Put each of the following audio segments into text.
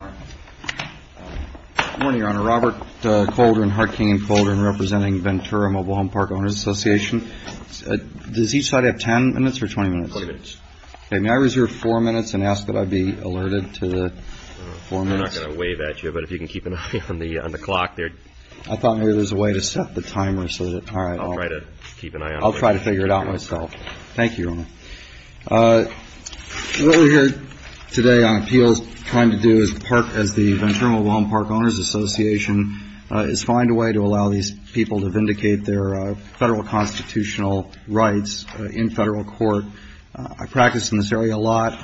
Good morning, Your Honor. Robert Koldrin, Hart King & Koldrin, representing Ventura Mobile Home Park Owners Association. Does each side have ten minutes or twenty minutes? Twenty minutes. May I reserve four minutes and ask that I be alerted to the four minutes? We're not going to wave at you, but if you can keep an eye on the clock there. I thought maybe there was a way to set the timer so that... I'll try to keep an eye on it. I'll try to figure it out myself. Thank you, Your Honor. What we're here today on appeals trying to do as the Ventura Mobile Home Park Owners Association is find a way to allow these people to vindicate their federal constitutional rights in federal court. I practice in this area a lot.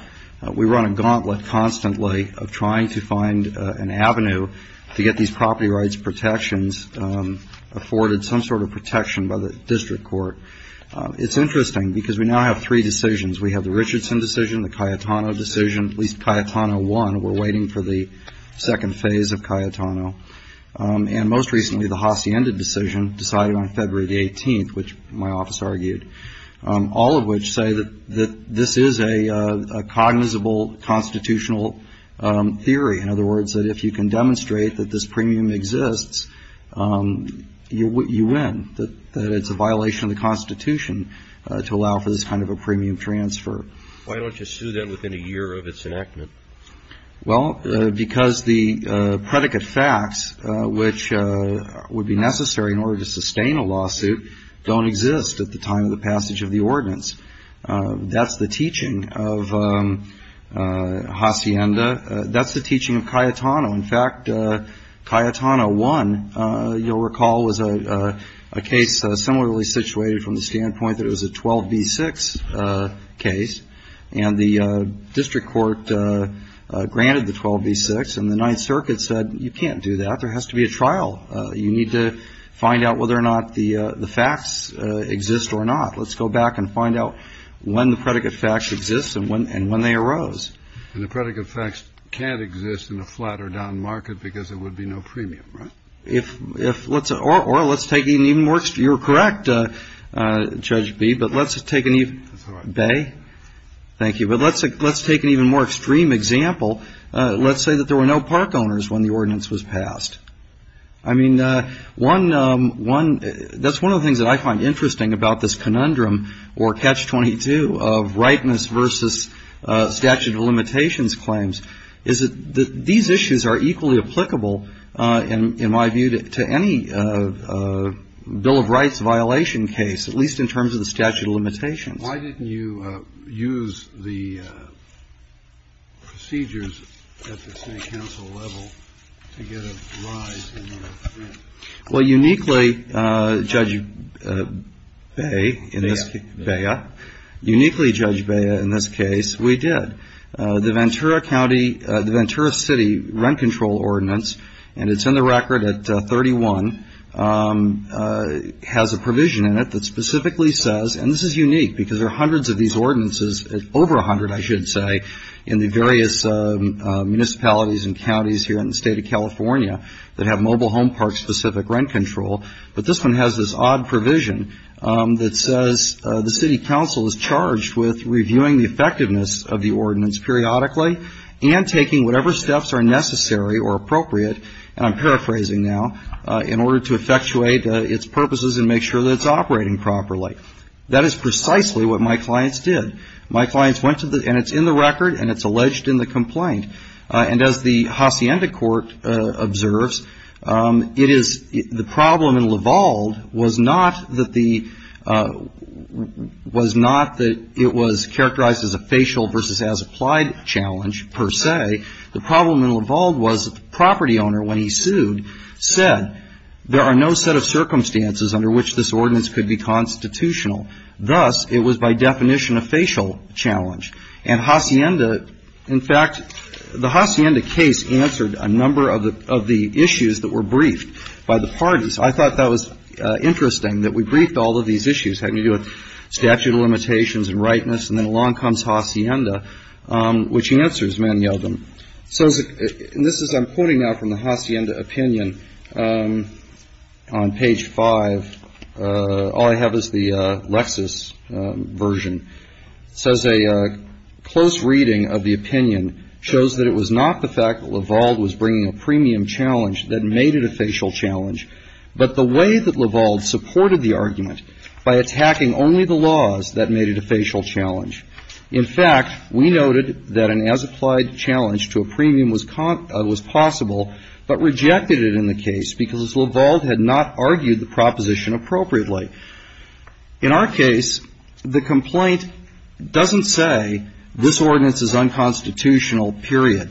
We run a gauntlet constantly of trying to find an avenue to get these property rights protections afforded some sort of protection by the district court. It's interesting because we now have three decisions. We have the Richardson decision, the Cayetano decision. At least Cayetano won. We're waiting for the second phase of Cayetano. And most recently, the Hacienda decision decided on February the 18th, which my office argued. All of which say that this is a cognizable constitutional theory. In other words, that if you can demonstrate that this premium exists, you win. That it's a violation of the Constitution to allow for this kind of a premium transfer. Why don't you sue that within a year of its enactment? Well, because the predicate facts, which would be necessary in order to sustain a lawsuit, don't exist at the time of the passage of the ordinance. That's the teaching of Hacienda. That's the teaching of Cayetano. In fact, Cayetano won. You'll recall was a case similarly situated from the standpoint that it was a 12b-6 case. And the district court granted the 12b-6. And the Ninth Circuit said, you can't do that. There has to be a trial. You need to find out whether or not the facts exist or not. Let's go back and find out when the predicate facts exist and when they arose. And the predicate facts can't exist in a flat or down market because there would be no premium, right? Or let's take an even more extreme. You're correct, Judge B. But let's take an even more extreme example. Let's say that there were no park owners when the ordinance was passed. I mean, that's one of the things that I find interesting about this conundrum, or Catch-22, of rightness versus statute of limitations claims, is that these issues are equally applicable, in my view, to any bill of rights violation case, at least in terms of the statute of limitations. Why didn't you use the procedures at the State Council level to get a rise in the premium? Well, uniquely, Judge Bea, uniquely, Judge Bea, in this case, we did. The Ventura County, the Ventura City rent control ordinance, and it's in the record at 31, has a provision in it that specifically says, and this is unique because there are hundreds of these ordinances, over a hundred, I should say, in the various municipalities and counties here in the State of California that have mobile home park-specific rent control, but this one has this odd provision that says, the City Council is charged with reviewing the effectiveness of the ordinance periodically and taking whatever steps are necessary or appropriate, and I'm paraphrasing now, in order to effectuate its purposes and make sure that it's operating properly. That is precisely what my clients did. My clients went to the, and it's in the record, and it's alleged in the complaint. And as the Hacienda Court observes, it is, the problem in Lavalde was not that the, was not that it was characterized as a facial versus as applied challenge, per se. The problem in Lavalde was that the property owner, when he sued, said, there are no set of circumstances under which this ordinance could be constitutional. Thus, it was by definition a facial challenge. And Hacienda, in fact, the Hacienda case answered a number of the issues that were briefed by the parties. I thought that was interesting that we briefed all of these issues, had to do with statute of limitations and rightness, and then along comes Hacienda, which answers many of them. So, and this is, I'm pointing now from the Hacienda opinion on page 5. All I have is the Lexis version. It says, a close reading of the opinion shows that it was not the fact that Lavalde was bringing a premium challenge that made it a facial challenge, but the way that Lavalde supported the argument, by attacking only the laws that made it a facial challenge. In fact, we noted that an as applied challenge to a premium was possible, but rejected it in the case because Lavalde had not argued the proposition appropriately. In our case, the complaint doesn't say this ordinance is unconstitutional, period.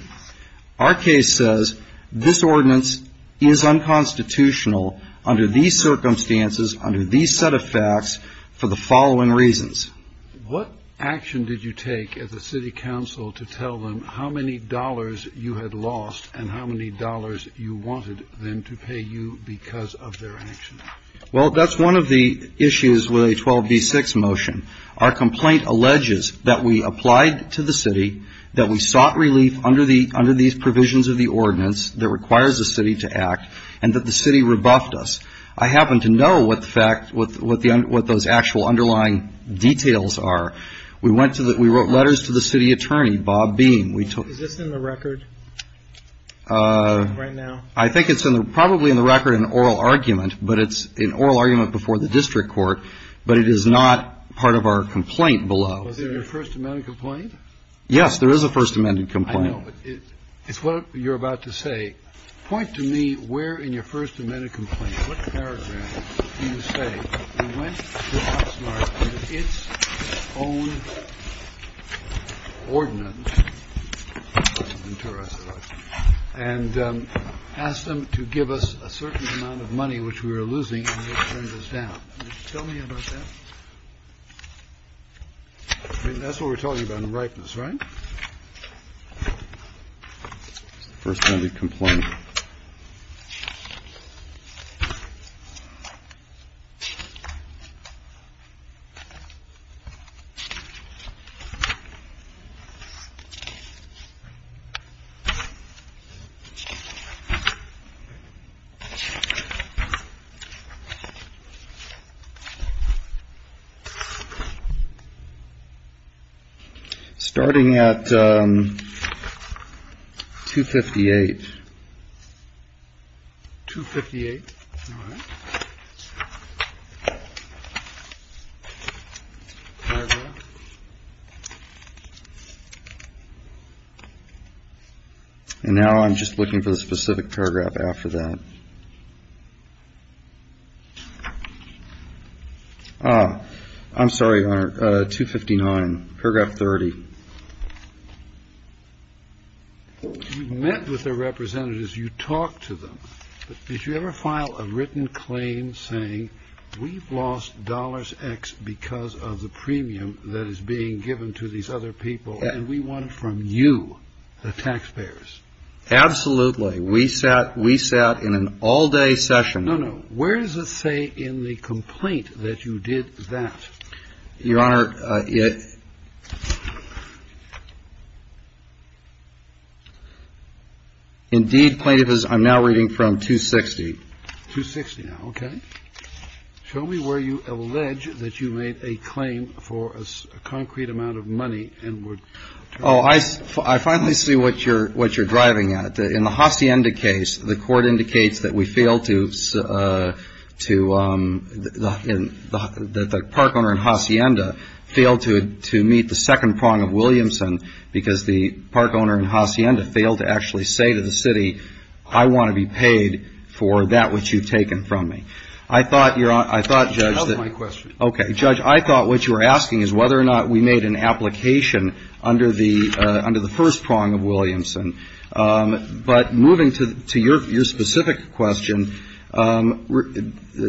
Our case says this ordinance is unconstitutional under these circumstances, under these set of facts, for the following reasons. What action did you take at the city council to tell them how many dollars you had lost and how many dollars you wanted them to pay you because of their actions? Well, that's one of the issues with a 12B6 motion. Our complaint alleges that we applied to the city, that we sought relief under these provisions of the ordinance that requires the city to act, and that the city rebuffed us. I happen to know what those actual underlying details are. We wrote letters to the city attorney, Bob Beam. Is this in the record right now? I think it's probably in the record in oral argument, but it's in oral argument before the district court, but it is not part of our complaint below. Was there a First Amendment complaint? Yes, there is a First Amendment complaint. I know, but it's what you're about to say. Point to me where in your First Amendment complaint, what paragraph do you say, We went to Oxnard with its own ordinance and asked them to give us a certain amount of money, which we were losing, and they turned us down. Can you tell me about that? That's what we're talking about in rightness, right? That's the First Amendment complaint. All right. Starting at 258, 258. And now I'm just looking for the specific paragraph after that. I'm sorry, Your Honor, 259, paragraph 30. You met with the representatives. You talked to them. Did you ever file a written claim saying we've lost dollars X because of the premium that is being given to these other people, and we want it from you, the taxpayers? Absolutely. We sat in an all-day session. No, no. Where does it say in the complaint that you did that? Your Honor, it indeed plaintiff is, I'm now reading from 260. 260 now, okay. Show me where you allege that you made a claim for a concrete amount of money and were turned down. I finally see what you're driving at. In the Hacienda case, the court indicates that we fail to, that the park owner in Hacienda failed to meet the second prong of Williamson because the park owner in Hacienda failed to actually say to the city, I want to be paid for that which you've taken from me. I thought, Judge. That was my question. Okay. But moving to your specific question,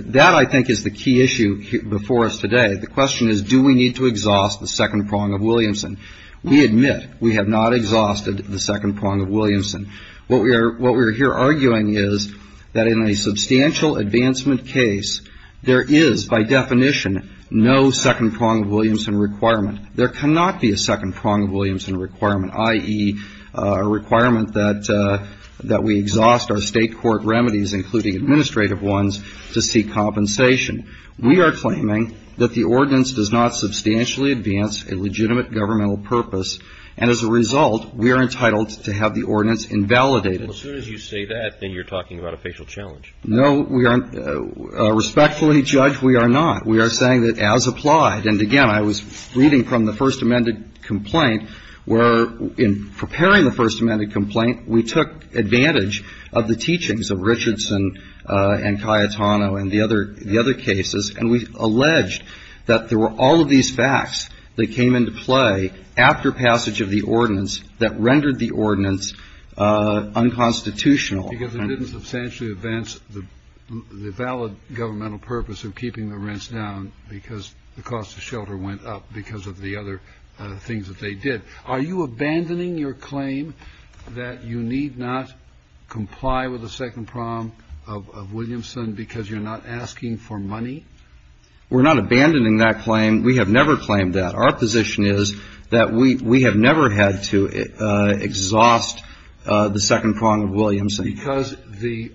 that I think is the key issue before us today. The question is, do we need to exhaust the second prong of Williamson? We admit we have not exhausted the second prong of Williamson. What we are here arguing is that in a substantial advancement case, there is by definition no second prong of Williamson requirement. There cannot be a second prong of Williamson requirement, i.e., a requirement that we exhaust our State court remedies, including administrative ones, to seek compensation. We are claiming that the ordinance does not substantially advance a legitimate governmental purpose. And as a result, we are entitled to have the ordinance invalidated. As soon as you say that, then you're talking about a facial challenge. No, we aren't. Respectfully, Judge, we are not. We are saying that as applied. And, again, I was reading from the First Amendment complaint, where in preparing the First Amendment complaint, we took advantage of the teachings of Richardson and Cayetano and the other cases, and we alleged that there were all of these facts that came into play after passage of the ordinance that rendered the ordinance unconstitutional. Because it didn't substantially advance the valid governmental purpose of keeping the rents down because the cost of shelter went up because of the other things that they did. Are you abandoning your claim that you need not comply with a second prong of Williamson because you're not asking for money? We're not abandoning that claim. We have never claimed that. Our position is that we have never had to exhaust the second prong of Williamson. Because the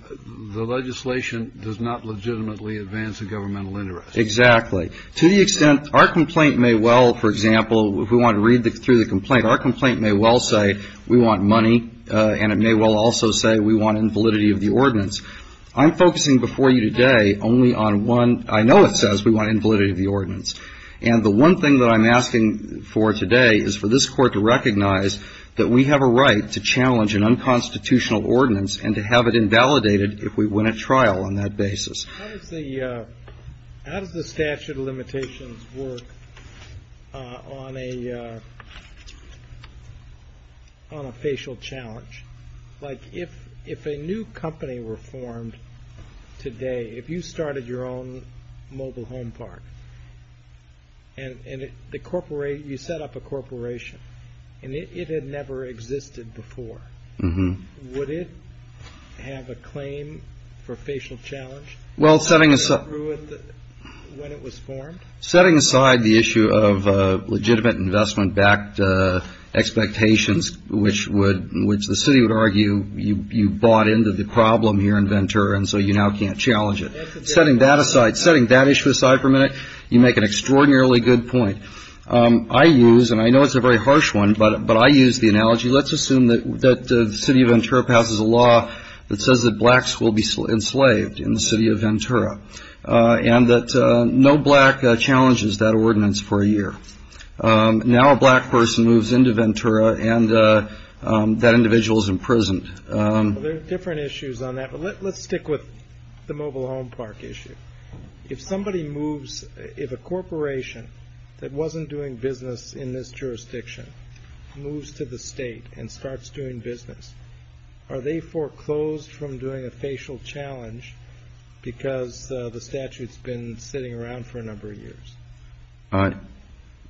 legislation does not legitimately advance a governmental interest. Exactly. To the extent our complaint may well, for example, if we want to read through the complaint, our complaint may well say we want money, and it may well also say we want invalidity of the ordinance. I'm focusing before you today only on one. I know it says we want invalidity of the ordinance. And the one thing that I'm asking for today is for this Court to recognize that we have a right to challenge an unconstitutional ordinance and to have it invalidated if we win a trial on that basis. How does the statute of limitations work on a facial challenge? Like if a new company were formed today, if you started your own mobile home park, and you set up a corporation, and it had never existed before, would it have a claim for facial challenge when it was formed? Setting aside the issue of legitimate investment-backed expectations, which the city would argue you bought into the problem here in Ventura, and so you now can't challenge it. Setting that aside, setting that issue aside for a minute, you make an extraordinarily good point. I use, and I know it's a very harsh one, but I use the analogy, let's assume that the city of Ventura passes a law that says that blacks will be enslaved in the city of Ventura, and that no black challenges that ordinance for a year. Now a black person moves into Ventura, and that individual is imprisoned. There are different issues on that, but let's stick with the mobile home park issue. If somebody moves, if a corporation that wasn't doing business in this jurisdiction, moves to the state and starts doing business, are they foreclosed from doing a facial challenge because the statute's been sitting around for a number of years?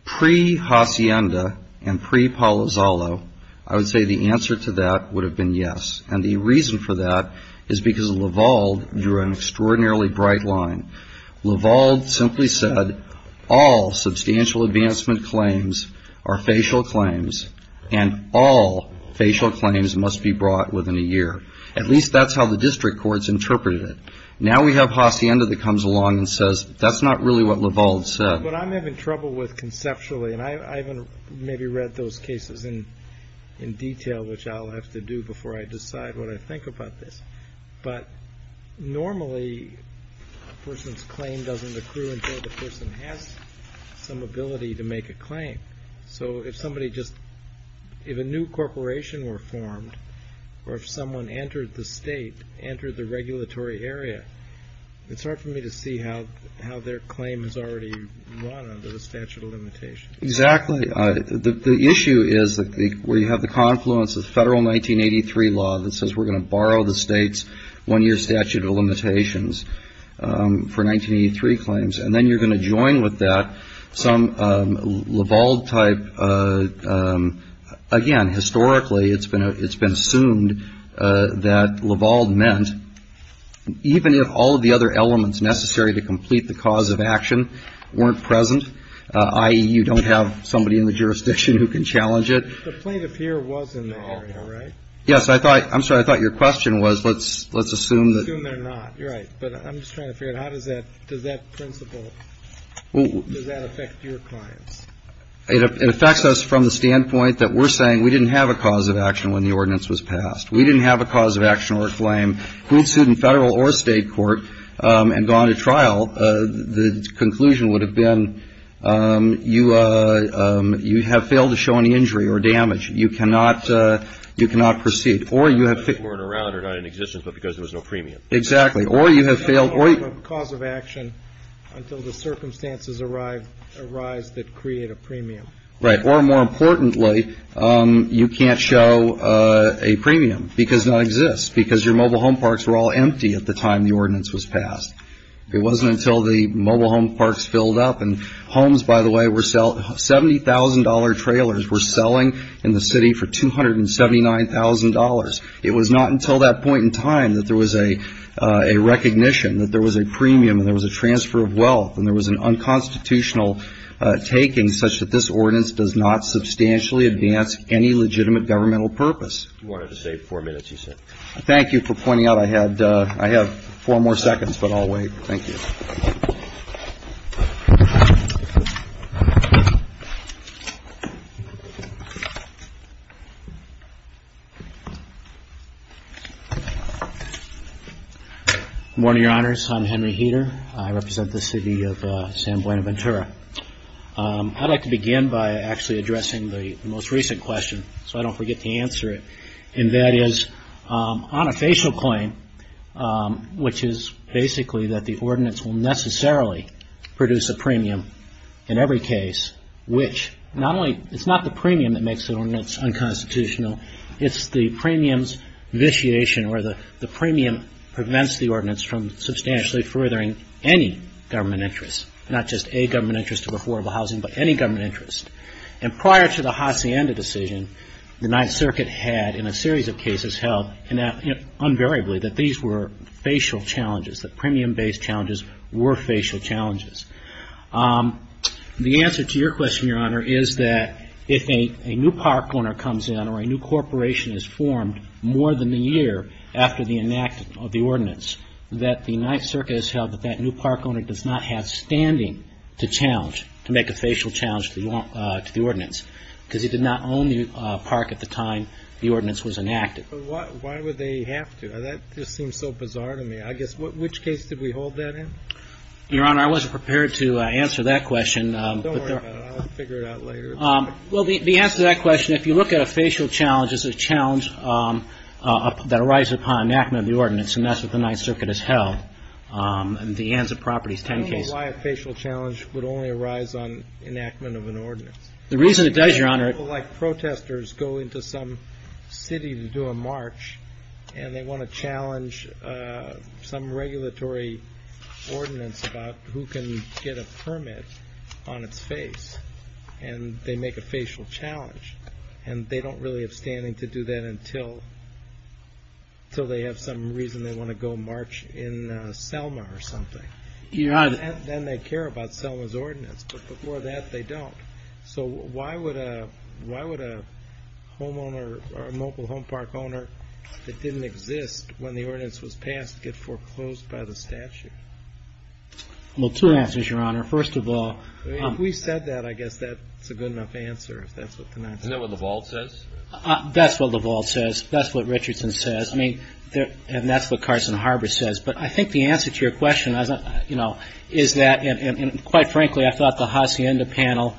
Pre-Hacienda and pre-Palo Zollo, I would say the answer to that would have been yes, and the reason for that is because Laval drew an extraordinarily bright line. Laval simply said all substantial advancement claims are facial claims, and all facial claims must be brought within a year. At least that's how the district courts interpreted it. Now we have Hacienda that comes along and says, that's not really what Laval said. But I'm having trouble with conceptually, and I haven't maybe read those cases in detail, which I'll have to do before I decide what I think about this, but normally a person's claim doesn't accrue until the person has some ability to make a claim. So if somebody just, if a new corporation were formed, or if someone entered the state, entered the regulatory area, it's hard for me to see how their claim has already run under the statute of limitations. Exactly. The issue is that we have the confluence of federal 1983 law that says we're going to borrow the state's one-year statute of limitations for 1983 claims, and then you're going to join with that some Laval type, again, historically it's been assumed that Laval meant, even if all of the other elements necessary to complete the cause of action weren't present, i.e., you don't have somebody in the jurisdiction who can challenge it. The plaintiff here was in the area, right? Yes. I'm sorry. I thought your question was let's assume that. Assume they're not. Right. But I'm just trying to figure out how does that, does that principle, does that affect your clients? It affects us from the standpoint that we're saying we didn't have a cause of action when the ordinance was passed. We didn't have a cause of action or a claim. Who sued in federal or state court and gone to trial, the conclusion would have been you have failed to show any injury or damage. You cannot proceed. Or you have. They weren't around or not in existence, but because there was no premium. Exactly. Or you have failed. Cause of action until the circumstances arise that create a premium. Right. Or, more importantly, you can't show a premium because it doesn't exist, because your mobile home parks were all empty at the time the ordinance was passed. It wasn't until the mobile home parks filled up and homes, by the way, were selling $70,000 trailers were selling in the city for $279,000. It was not until that point in time that there was a recognition that there was a premium and there was a transfer of wealth and there was an unconstitutional taking such that this ordinance does not substantially advance any legitimate governmental purpose. You wanted to save four minutes, you said. Thank you for pointing out I had four more seconds, but I'll wait. Thank you. Good morning, Your Honors. I'm Henry Heeter. I represent the city of San Buenaventura. I'd like to begin by actually addressing the most recent question so I don't forget to answer it, and that is on a facial claim, which is basically that the ordinance will necessarily produce a premium in every case, which not only it's not the premium that makes the ordinance unconstitutional, it's the premium's vitiation or the premium prevents the ordinance from substantially furthering any government interest, not just a government interest of affordable housing, but any government interest. And prior to the Hacienda decision, the Ninth Circuit had, in a series of cases, held invariably that these were facial challenges, that premium-based challenges were facial challenges. The answer to your question, Your Honor, is that if a new park owner comes in or a new corporation is formed more than a year after the enactment of the ordinance, that the Ninth Circuit has held that that new park owner does not have standing to challenge, to challenge the ordinance because he did not own the park at the time the ordinance was enacted. But why would they have to? That just seems so bizarre to me. I guess which case did we hold that in? Your Honor, I wasn't prepared to answer that question. Don't worry about it. I'll figure it out later. Well, the answer to that question, if you look at a facial challenge, it's a challenge that arises upon enactment of the ordinance, and that's what the Ninth Circuit has held in the Anza Properties 10 case. That's why a facial challenge would only arise on enactment of an ordinance. The reason it does, Your Honor. People like protesters go into some city to do a march, and they want to challenge some regulatory ordinance about who can get a permit on its face, and they make a facial challenge, and they don't really have standing to do that until they have some reason they want to go march in Selma or something. Your Honor. Then they care about Selma's ordinance. But before that, they don't. So why would a homeowner or a local home park owner that didn't exist when the ordinance was passed get foreclosed by the statute? Well, two answers, Your Honor. First of all. If we said that, I guess that's a good enough answer, if that's what the Ninth Circuit says. Isn't that what the vault says? That's what the vault says. That's what Richardson says. I mean, and that's what Carson Harbor says. But I think the answer to your question, you know, is that, and quite frankly, I thought the Hacienda panel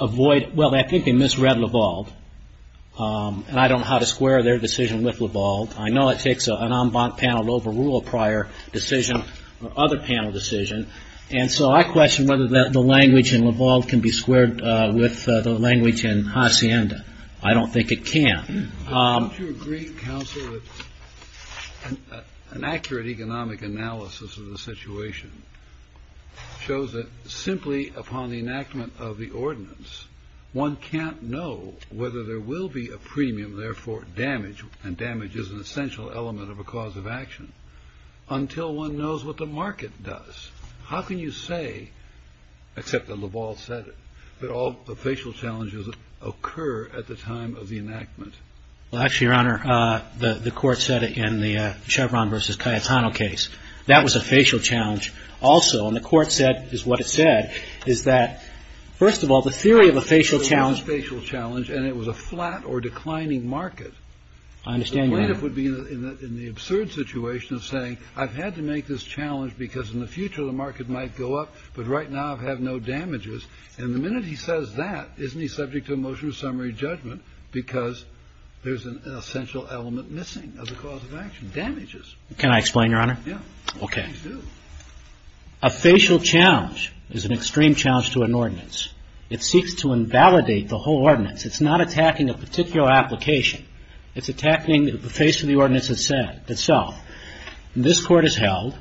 avoided, well, I think they misread Lavalde, and I don't know how to square their decision with Lavalde. I know it takes an en banc panel to overrule a prior decision or other panel decision. And so I question whether the language in Lavalde can be squared with the language in Hacienda. I don't think it can. Don't you agree, Counsel, that an accurate economic analysis of the situation shows that simply upon the enactment of the ordinance, one can't know whether there will be a premium, therefore damage, and damage is an essential element of a cause of action, until one knows what the market does. How can you say, except that Lavalde said it, that all the facial challenges occur at the time of the enactment? Well, actually, Your Honor, the Court said it in the Chevron v. Cayetano case. That was a facial challenge also. And the Court said, is what it said, is that, first of all, the theory of a facial challenge. It was a facial challenge, and it was a flat or declining market. I understand, Your Honor. The plaintiff would be in the absurd situation of saying, I've had to make this challenge because in the future the market might go up, but right now I have no damages. And the minute he says that, isn't he subject to a motion of summary judgment because there's an essential element missing of the cause of action, damages? Can I explain, Your Honor? Yeah. Okay. Please do. A facial challenge is an extreme challenge to an ordinance. It seeks to invalidate the whole ordinance. It's not attacking a particular application. It's attacking the face of the ordinance itself. This Court has held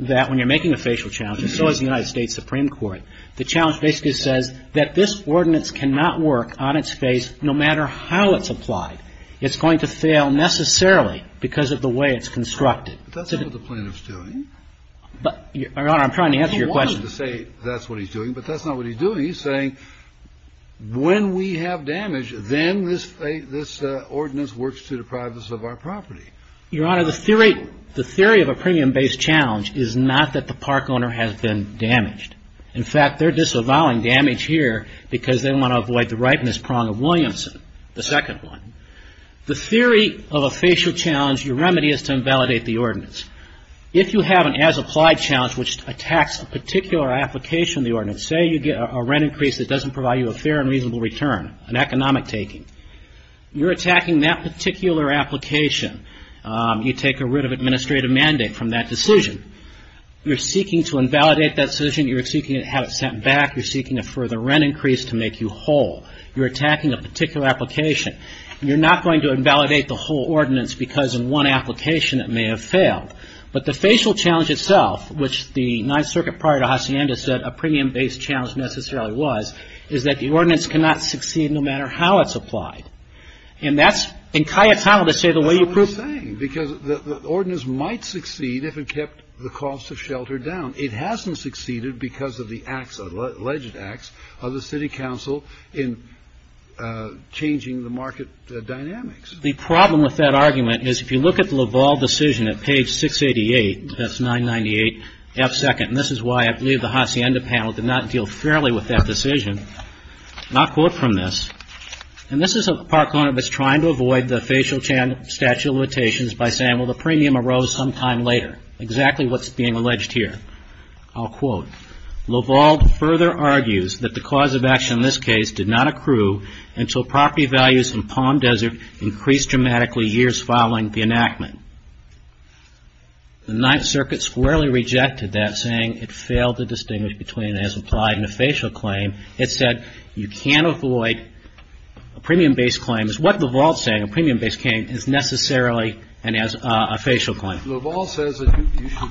that when you're making a facial challenge, and so has the United States Supreme Court, the challenge basically says that this ordinance cannot work on its face no matter how it's applied. It's going to fail necessarily because of the way it's constructed. But that's not what the plaintiff's doing. Your Honor, I'm trying to answer your question. He wanted to say that's what he's doing, but that's not what he's doing. He's saying when we have damage, then this ordinance works to the privacy of our property. Your Honor, the theory of a premium-based challenge is not that the park owner has been damaged. In fact, they're disavowing damage here because they want to avoid the ripeness prong of Williamson, the second one. The theory of a facial challenge, your remedy is to invalidate the ordinance. If you have an as-applied challenge which attacks a particular application of the ordinance, say you get a rent increase that doesn't provide you a fair and reasonable return, an economic taking, you're attacking that particular application. You take a writ of administrative mandate from that decision. You're seeking to invalidate that decision. You're seeking to have it sent back. You're seeking a further rent increase to make you whole. You're attacking a particular application. You're not going to invalidate the whole ordinance because in one application it may have failed. But the facial challenge itself, which the Ninth Circuit prior to Hacienda said a premium-based challenge necessarily was, is that the ordinance cannot succeed no matter how it's applied. And that's in Cayetano to say the way you prove it. That's what I'm saying because the ordinance might succeed if it kept the cost of shelter down. It hasn't succeeded because of the acts, alleged acts, of the city council in changing the market dynamics. The problem with that argument is if you look at the Laval decision at page 688, that's 998F2nd, and this is why I believe the Hacienda panel did not deal fairly with that decision, not quote from this. And this is a park owner that's trying to avoid the facial statute of limitations by saying, well, the premium arose sometime later, exactly what's being alleged here. I'll quote, Laval further argues that the cause of action in this case did not accrue until property values in Palm Desert increased dramatically years following the enactment. The Ninth Circuit squarely rejected that, saying it failed to distinguish between an as-implied and a facial claim. It said you can't avoid a premium-based claim. It's what Laval is saying, a premium-based claim is necessarily a facial claim. Laval says that you should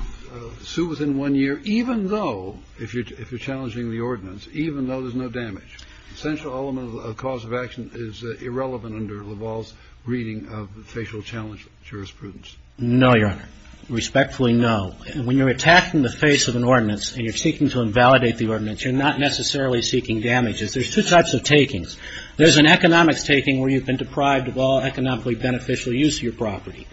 sue within one year even though, if you're challenging the ordinance, even though there's no damage. Essential element of the cause of action is irrelevant under Laval's reading of facial challenge jurisprudence. No, Your Honor. Respectfully, no. When you're attacked in the face of an ordinance and you're seeking to invalidate the ordinance, you're not necessarily seeking damages. There's two types of takings. There's an economics taking where you've been deprived of all economically beneficial use of your property.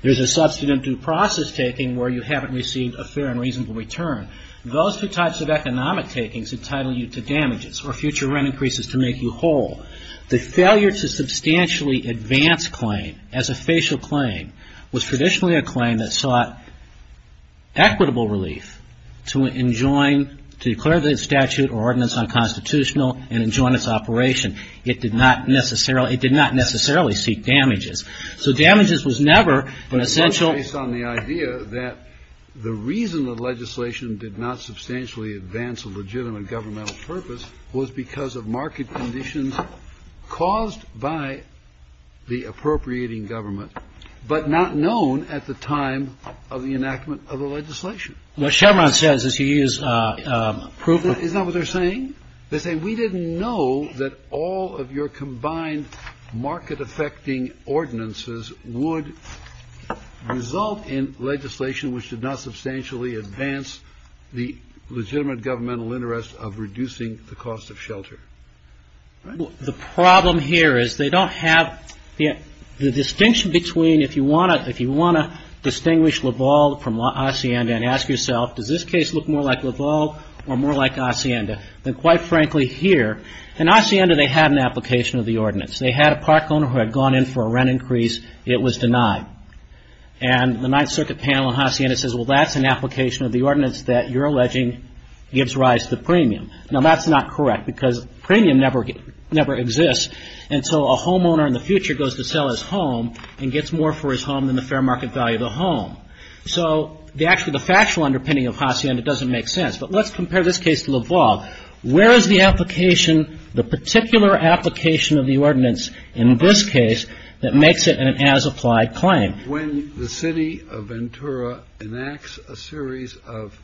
There's a substantive process taking where you haven't received a fair and reasonable return. Those two types of economic takings entitle you to damages or future rent increases to make you whole. The failure to substantially advance claim as a facial claim was traditionally a claim that sought equitable relief to enjoin, to declare the statute or ordinance unconstitutional and enjoin its operation. It did not necessarily, it did not necessarily seek damages. So damages was never an essential. Based on the idea that the reason that legislation did not substantially advance a legitimate governmental purpose was because of market conditions caused by the appropriating government but not known at the time of the enactment of the legislation. What Chevron says is you use approval. Isn't that what they're saying? They're saying we didn't know that all of your combined market affecting ordinances would result in legislation which did not substantially advance the legitimate governmental interest of reducing the cost of shelter. The problem here is they don't have the distinction between if you want to, distinguish LaValle from Hacienda and ask yourself does this case look more like LaValle or more like Hacienda than quite frankly here. In Hacienda they had an application of the ordinance. They had a park owner who had gone in for a rent increase. It was denied. And the Ninth Circuit panel in Hacienda says well that's an application of the ordinance that you're alleging gives rise to premium. Now that's not correct because premium never exists. And so a homeowner in the future goes to sell his home and gets more for his home than the fair market value of the home. So actually the factual underpinning of Hacienda doesn't make sense. But let's compare this case to LaValle. Where is the application, the particular application of the ordinance in this case that makes it an as applied claim? When the city of Ventura enacts a series of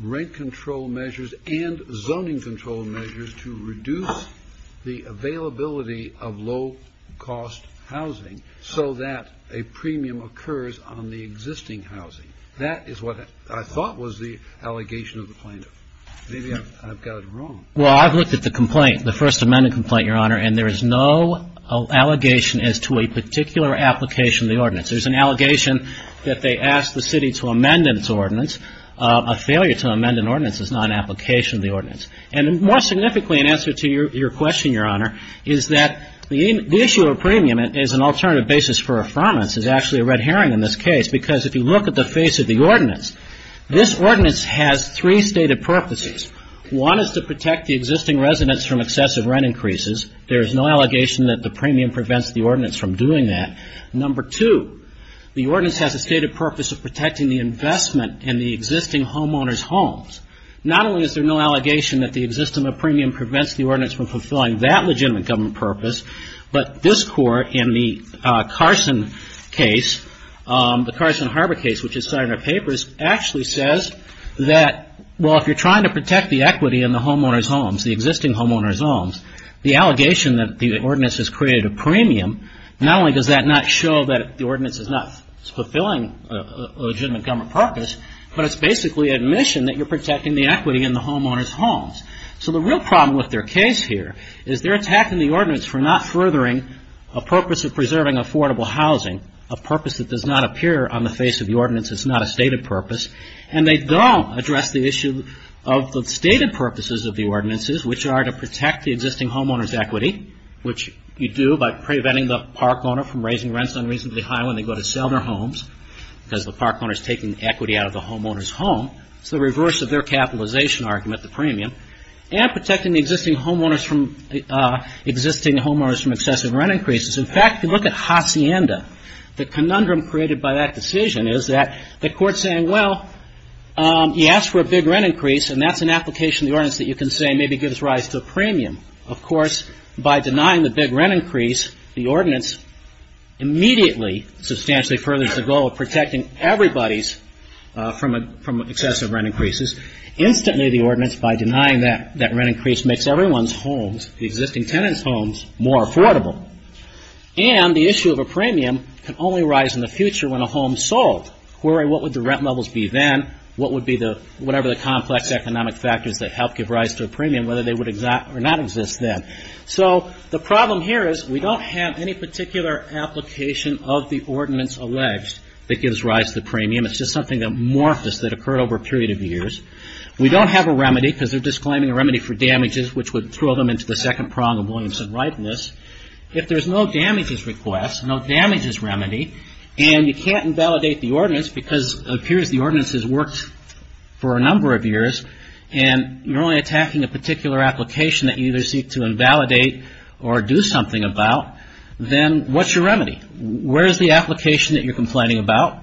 rent control measures and zoning control measures to reduce the availability of low cost housing so that a premium occurs on the existing housing. That is what I thought was the allegation of the plaintiff. Maybe I've got it wrong. Well I've looked at the complaint, the First Amendment complaint, Your Honor, and there is no allegation as to a particular application of the ordinance. There's an allegation that they asked the city to amend its ordinance. A failure to amend an ordinance is not an application of the ordinance. And more significantly in answer to your question, Your Honor, is that the issue of premium is an alternative basis for affirmance is actually a red herring in this case. Because if you look at the face of the ordinance, this ordinance has three stated purposes. One is to protect the existing residents from excessive rent increases. There is no allegation that the premium prevents the ordinance from doing that. Number two, the ordinance has a stated purpose of protecting the investment in the existing homeowners' homes. Not only is there no allegation that the existence of a premium prevents the ordinance from fulfilling that legitimate government purpose, but this Court in the Carson case, the Carson Harbor case, which is cited in our papers, actually says that, well, if you're trying to protect the equity in the homeowners' homes, the existing homeowners' homes, the allegation that the ordinance has created a premium, not only does that not show that the ordinance is not fulfilling a legitimate government purpose, but it's basically admission that you're protecting the equity in the homeowners' homes. So the real problem with their case here is they're attacking the ordinance for not furthering a purpose of preserving affordable housing, a purpose that does not appear on the face of the ordinance. It's not a stated purpose. And they don't address the issue of the stated purposes of the ordinances, which are to protect the existing homeowners' equity, which you do by preventing the park owner from raising rents unreasonably high when they go to sell their homes, because the park owner is taking equity out of the homeowners' home. It's the reverse of their capitalization argument, the premium, and protecting the existing homeowners from excessive rent increases. In fact, if you look at Hacienda, the conundrum created by that decision is that the Court is saying, well, you ask for a big rent increase and that's an application of the ordinance that you can say maybe gives rise to a premium. Of course, by denying the big rent increase, the ordinance immediately substantially furthers the goal of protecting everybody from excessive rent increases. Instantly, the ordinance, by denying that rent increase, makes everyone's homes, the existing tenants' homes, more affordable. And the issue of a premium can only arise in the future when a home is sold. What would the rent levels be then? Whatever the complex economic factors that help give rise to a premium, whether they would or not exist then. The problem here is we don't have any particular application of the ordinance alleged that gives rise to the premium. It's just something amorphous that occurred over a period of years. We don't have a remedy, because they're disclaiming a remedy for damages, which would throw them into the second prong of Williamson's rightness. If there's no damages request, no damages remedy, and you can't invalidate the ordinance because it appears the ordinance has worked for a number of years, and you're only attacking a particular application that you either seek to invalidate or do something about, then what's your remedy? Where is the application that you're complaining about?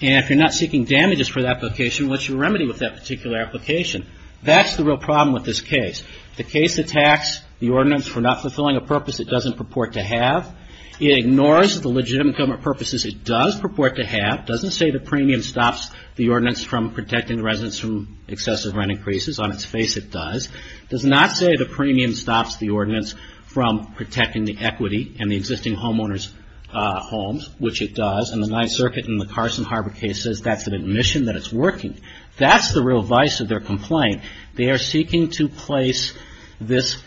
And if you're not seeking damages for that application, what's your remedy with that particular application? That's the real problem with this case. The case attacks the ordinance for not fulfilling a purpose it doesn't purport to have. It ignores the legitimate government purposes it does purport to have. It doesn't say the premium stops the ordinance from protecting residents from excessive rent increases. On its face, it does. It does not say the premium stops the ordinance from protecting the equity and the existing homeowners' homes, which it does. And the Ninth Circuit in the Carson Harbor case says that's an admission that it's working. That's the real vice of their complaint. They are seeking to place this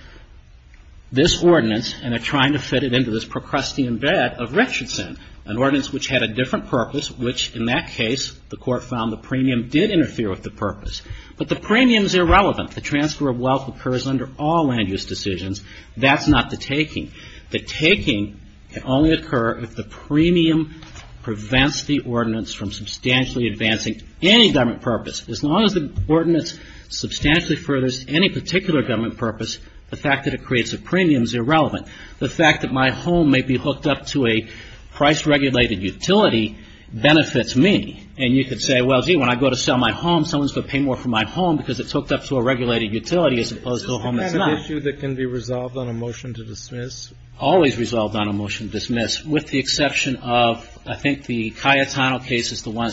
ordinance and are trying to fit it into this Procrustean bed of Richardson, an ordinance which had a different purpose, which in that case the Court found the premium did interfere with the purpose. But the premium is irrelevant. The transfer of wealth occurs under all land use decisions. That's not the taking. The taking can only occur if the premium prevents the ordinance from substantially advancing any government purpose. As long as the ordinance substantially furthers any particular government purpose, the fact that it creates a premium is irrelevant. The fact that my home may be hooked up to a price-regulated utility benefits me. And you could say, well, gee, when I go to sell my home, someone's going to pay more for my home because it's hooked up to a regulated utility as opposed to a home that's not. Kennedy. Isn't that an issue that can be resolved on a motion to dismiss? It's always resolved on a motion to dismiss, with the exception of I think the Cayetano case is the one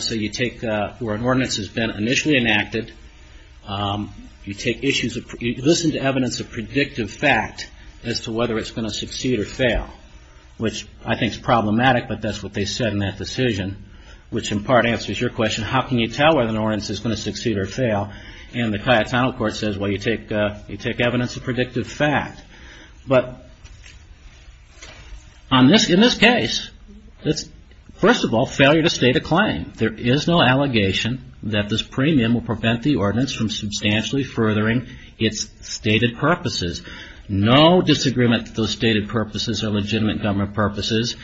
where an ordinance has been initially enacted. You listen to evidence of predictive fact as to whether it's going to succeed or fail, which I think is problematic, but that's what they said in that decision, which in part answers your question. How can you tell whether an ordinance is going to succeed or fail? And the Cayetano Court says, well, you take evidence of predictive fact. But in this case, first of all, failure to state a claim. There is no allegation that this premium will prevent the ordinance from substantially furthering its stated purposes. No disagreement that those stated purposes are legitimate government purposes.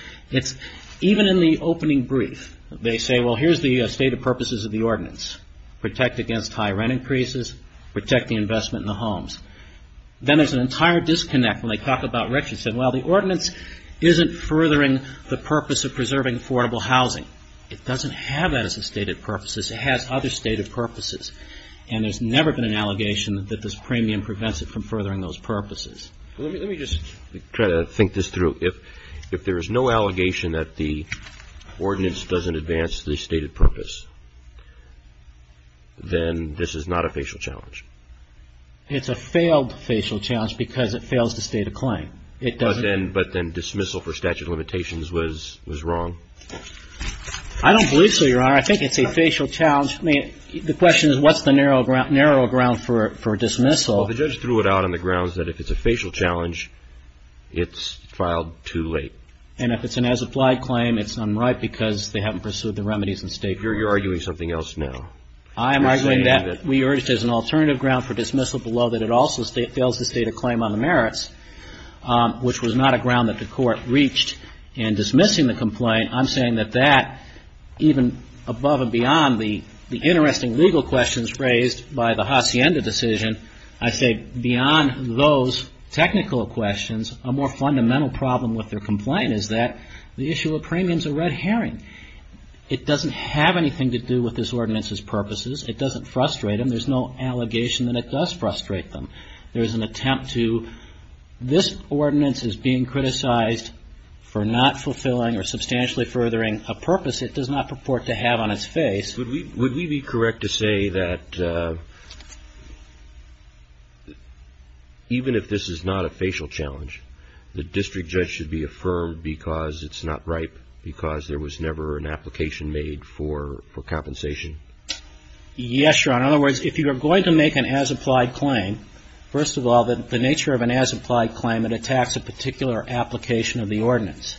Even in the opening brief, they say, well, here's the stated purposes of the ordinance. Protect against high rent increases. Protect the investment in the homes. Then there's an entire disconnect when they talk about retribution. Well, the ordinance isn't furthering the purpose of preserving affordable housing. It doesn't have that as a stated purpose. It has other stated purposes. And there's never been an allegation that this premium prevents it from furthering those purposes. Let me just try to think this through. If there is no allegation that the ordinance doesn't advance the stated purpose, then this is not a facial challenge. It's a failed facial challenge because it fails to state a claim. But then dismissal for statute of limitations was wrong? I don't believe so, Your Honor. I think it's a facial challenge. I mean, the question is, what's the narrow ground for dismissal? Well, the judge threw it out on the grounds that if it's a facial challenge, it's filed too late. And if it's an as-applied claim, it's unright because they haven't pursued the remedies and stated purposes. You're arguing something else now. I am arguing that we urge there's an alternative ground for dismissal below that it also fails to state a claim on the merits, which was not a ground that the court reached in dismissing the complaint. I'm saying that that, even above and beyond the interesting legal questions raised by the Hacienda decision, I say beyond those technical questions, a more fundamental problem with their complaint is that the issue of premium is a red herring. It doesn't have anything to do with this ordinance's purposes. It doesn't frustrate them. There's no allegation that it does frustrate them. There is an attempt to this ordinance is being criticized for not fulfilling or substantially furthering a purpose it does not purport to have on its face. Would we be correct to say that even if this is not a facial challenge, the district judge should be affirmed because it's not ripe, because there was never an application made for compensation? Yes, Your Honor. In other words, if you are going to make an as-applied claim, first of all, the nature of an as-applied claim, it attacks a particular application of the ordinance.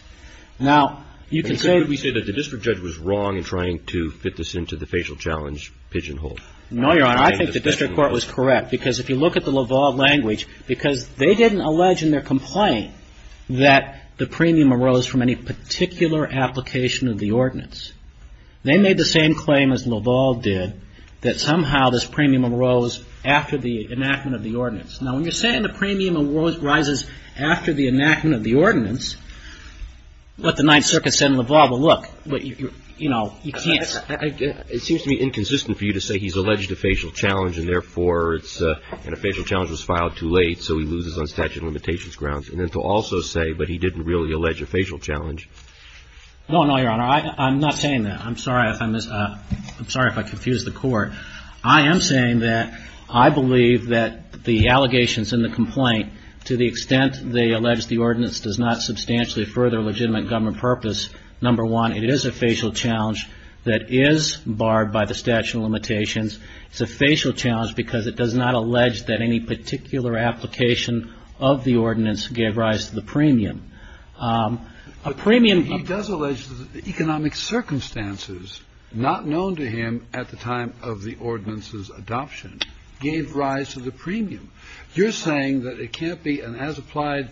Now, you can say we say that the district judge was wrong in trying to fit this into the facial challenge pigeonhole. No, Your Honor. I think the district court was correct because if you look at the Laval language, because they didn't allege in their complaint that the premium arose from any particular application of the ordinance. They made the same claim as Laval did that somehow this premium arose after the enactment of the ordinance. Now, when you're saying the premium arises after the enactment of the ordinance, what the Ninth Circuit said in Laval, well, look, you know, you can't. It seems to me inconsistent for you to say he's alleged a facial challenge, and therefore it's a facial challenge was filed too late, so he loses on statute of limitations grounds, and then to also say, but he didn't really allege a facial challenge. No, no, Your Honor. I'm not saying that. I'm sorry if I confused the court. I am saying that I believe that the allegations in the complaint, to the extent they allege the ordinance does not substantially further legitimate government purpose, number one, it is a facial challenge that is barred by the statute of limitations. It's a facial challenge because it does not allege that any particular application of the ordinance gave rise to the premium. A premium. He does allege that the economic circumstances not known to him at the time of the ordinance's adoption gave rise to the premium. You're saying that it can't be an as-applied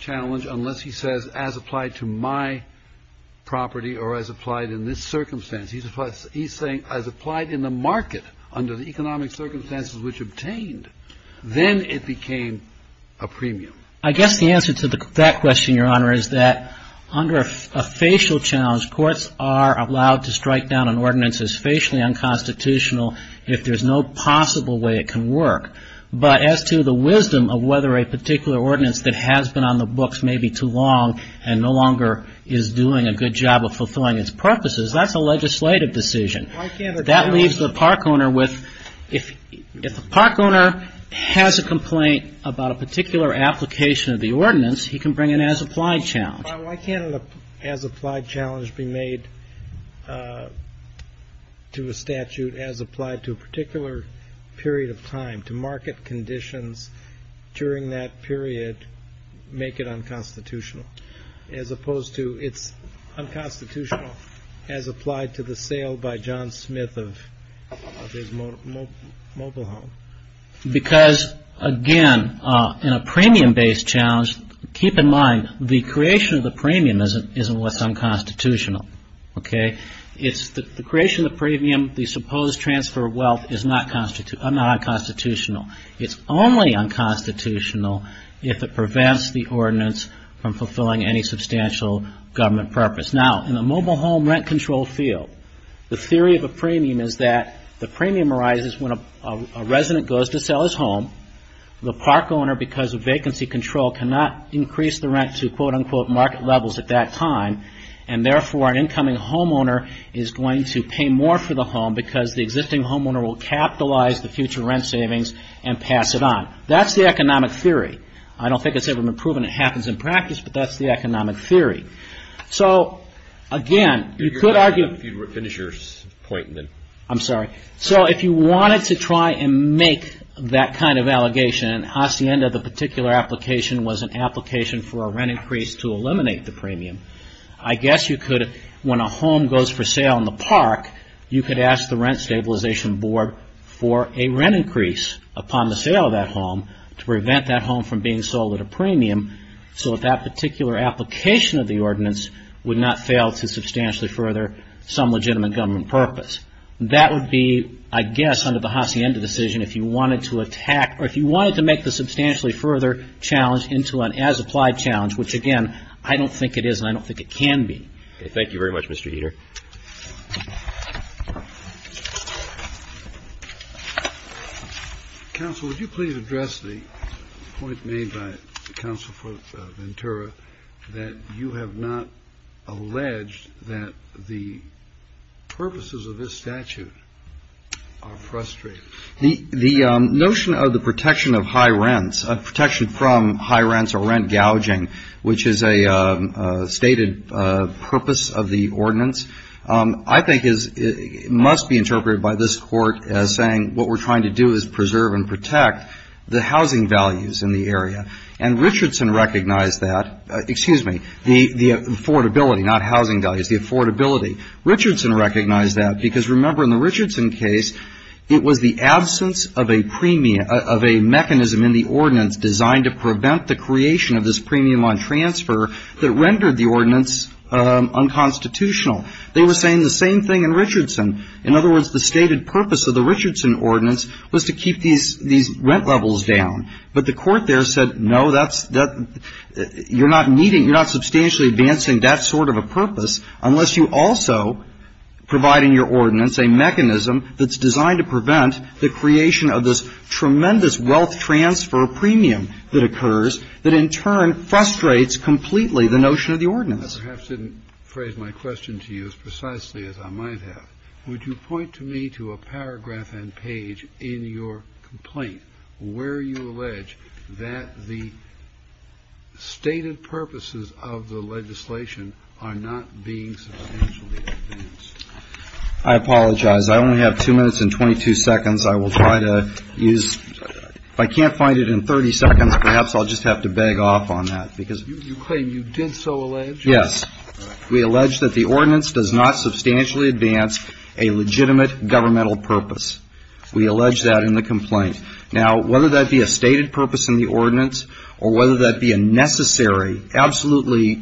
challenge unless he says as-applied to my property or as-applied in this circumstance. He's saying as-applied in the market under the economic circumstances which obtained, then it became a premium. I guess the answer to that question, Your Honor, is that under a facial challenge, courts are allowed to strike down an ordinance as facially unconstitutional if there's no possible way it can work. But as to the wisdom of whether a particular ordinance that has been on the books may be too long and no longer is doing a good job of fulfilling its purposes, that's a legislative decision. That leaves the park owner with, if the park owner has a complaint about a particular application of the ordinance, he can bring an as-applied challenge. Why can't an as-applied challenge be made to a statute as applied to a particular period of time, to market conditions during that period make it unconstitutional, as opposed to it's unconstitutional as applied to the sale by John Smith of his mobile home? Because, again, in a premium-based challenge, keep in mind the creation of the premium isn't what's unconstitutional. Okay? It's the creation of the premium, the supposed transfer of wealth is not unconstitutional. It's only unconstitutional if it prevents the ordinance from fulfilling any substantial government purpose. Now, in the mobile home rent control field, the theory of a premium is that the premium arises when a resident goes to sell his home. The park owner, because of vacancy control, cannot increase the rent to quote-unquote market levels at that time. And therefore, an incoming homeowner is going to pay more for the home because the existing homeowner will capitalize the future rent savings and pass it on. That's the economic theory. I don't think it's ever been proven it happens in practice, but that's the economic theory. So, again, you could argue... If you finish your point, then... I'm sorry. So, if you wanted to try and make that kind of allegation, and Hacienda, the particular application, was an application for a rent increase to eliminate the premium, I guess you could, when a home goes for sale in the park, you could ask the Rent Stabilization Board for a rent increase upon the sale of that home to prevent that home from being sold at a premium. So that particular application of the ordinance would not fail to substantially further some legitimate government purpose. That would be, I guess, under the Hacienda decision, if you wanted to attack or if you wanted to make the substantially further challenge into an as-applied challenge, which, again, I don't think it is and I don't think it can be. Thank you very much, Mr. Eder. Thank you. Counsel, would you please address the point made by Counsel for Ventura that you have not alleged that the purposes of this statute are frustrating? The notion of the protection of high rents, protection from high rents or rent gouging, which is a stated purpose of the ordinance, I think must be interpreted by this Court as saying what we're trying to do is preserve and protect the housing values in the area. And Richardson recognized that. Excuse me, the affordability, not housing values, the affordability. Richardson recognized that because, remember, in the Richardson case, it was the absence of a premium of a mechanism in the ordinance designed to prevent the creation of this premium on transfer that rendered the ordinance unconstitutional. They were saying the same thing in Richardson. In other words, the stated purpose of the Richardson ordinance was to keep these rent levels down. But the Court there said, no, that's you're not needing, you're not substantially advancing that sort of a purpose unless you also are providing your ordinance a mechanism that's designed to prevent the creation of this tremendous wealth transfer premium that occurs that in turn frustrates completely the notion of the ordinance. Kennedy. I perhaps didn't phrase my question to you as precisely as I might have. Would you point to me to a paragraph and page in your complaint where you allege that the stated purposes of the legislation are not being substantially advanced? I apologize. I only have two minutes and 22 seconds. I will try to use ‑‑ if I can't find it in 30 seconds, perhaps I'll just have to beg off on that. You claim you did so allege? Yes. We allege that the ordinance does not substantially advance a legitimate governmental purpose. We allege that in the complaint. Now, whether that be a stated purpose in the ordinance or whether that be a necessary, absolutely,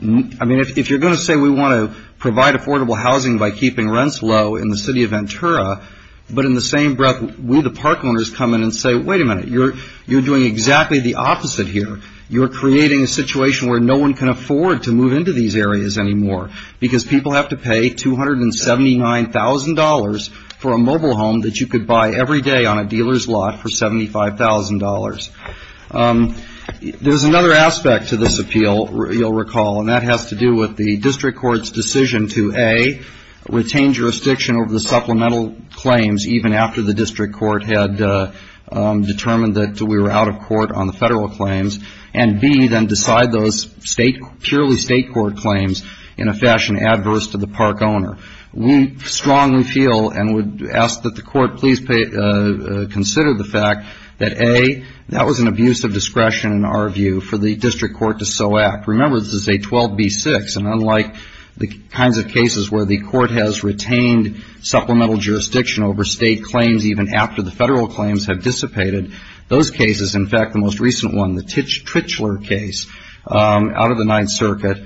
I mean, if you're going to say we want to provide affordable housing by keeping rents low in the city of Ventura, but in the same breath, will the park owners come in and say, wait a minute, you're doing exactly the opposite here. You're creating a situation where no one can afford to move into these areas anymore because people have to pay $279,000 for a mobile home that you could buy every day on a dealer's lot for $75,000. There's another aspect to this appeal, you'll recall, and that has to do with the district court's decision to, A, retain jurisdiction over the supplemental claims even after the district court had determined that we were out of court on the federal claims, and, B, then decide those purely state court claims in a fashion adverse to the park owner. We strongly feel and would ask that the court please consider the fact that, A, that was an abuse of discretion in our view for the district court to so act. Remember, this is a 12B6, and unlike the kinds of cases where the court has retained supplemental jurisdiction over state claims even after the federal claims have dissipated, those cases, in fact, the most recent one, the Trichler case out of the Ninth Circuit,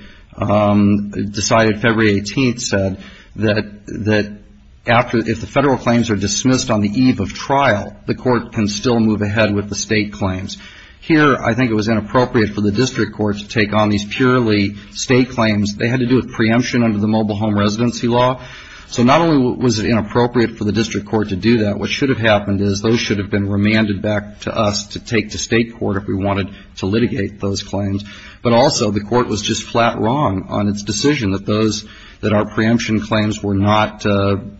decided February 18th, said that after, if the federal claims are dismissed on the eve of trial, the court can still move ahead with the state claims. Here, I think it was inappropriate for the district court to take on these purely state claims. They had to do with preemption under the mobile home residency law. So not only was it inappropriate for the district court to do that, but what should have happened is those should have been remanded back to us to take to state court if we wanted to litigate those claims, but also the court was just flat wrong on its decision that those, that our preemption claims were not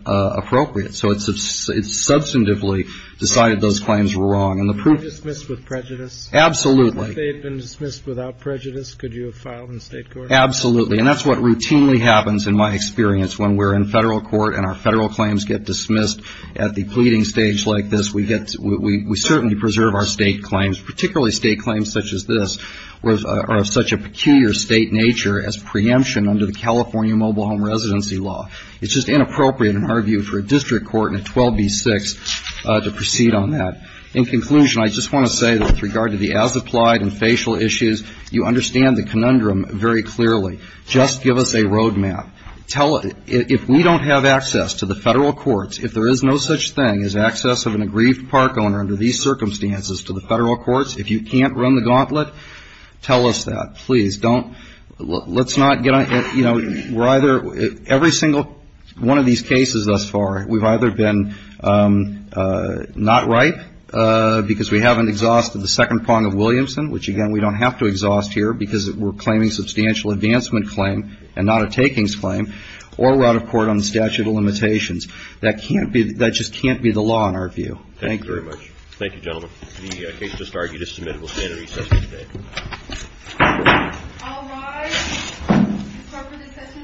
appropriate. So it substantively decided those claims were wrong. And the proof is ‑‑ Can they be dismissed with prejudice? Absolutely. If they had been dismissed without prejudice, could you have filed in state court? Absolutely. And that's what routinely happens in my experience when we're in federal court and our federal claims get dismissed at the pleading stage like this, we get, we certainly preserve our state claims, particularly state claims such as this, or of such a peculiar state nature as preemption under the California mobile home residency law. It's just inappropriate in our view for a district court and a 12B6 to proceed on that. In conclusion, I just want to say that with regard to the as applied and facial issues, you understand the conundrum very clearly. Just give us a road map. If we don't have access to the federal courts, if there is no such thing as access of an aggrieved park owner under these circumstances to the federal courts, if you can't run the gauntlet, tell us that. Please don't, let's not get on, you know, we're either, every single one of these cases thus far, we've either been not right because we haven't exhausted the second prong of Williamson, which, again, we don't have to exhaust here because we're claiming substantial advancement claim and not a takings claim, or we're out of court on the statute of limitations. That can't be, that just can't be the law in our view. Thank you. Thank you very much. Thank you, gentlemen. The case just argued is submitted. We'll stand at recess for today. All rise. Recess is adjourned.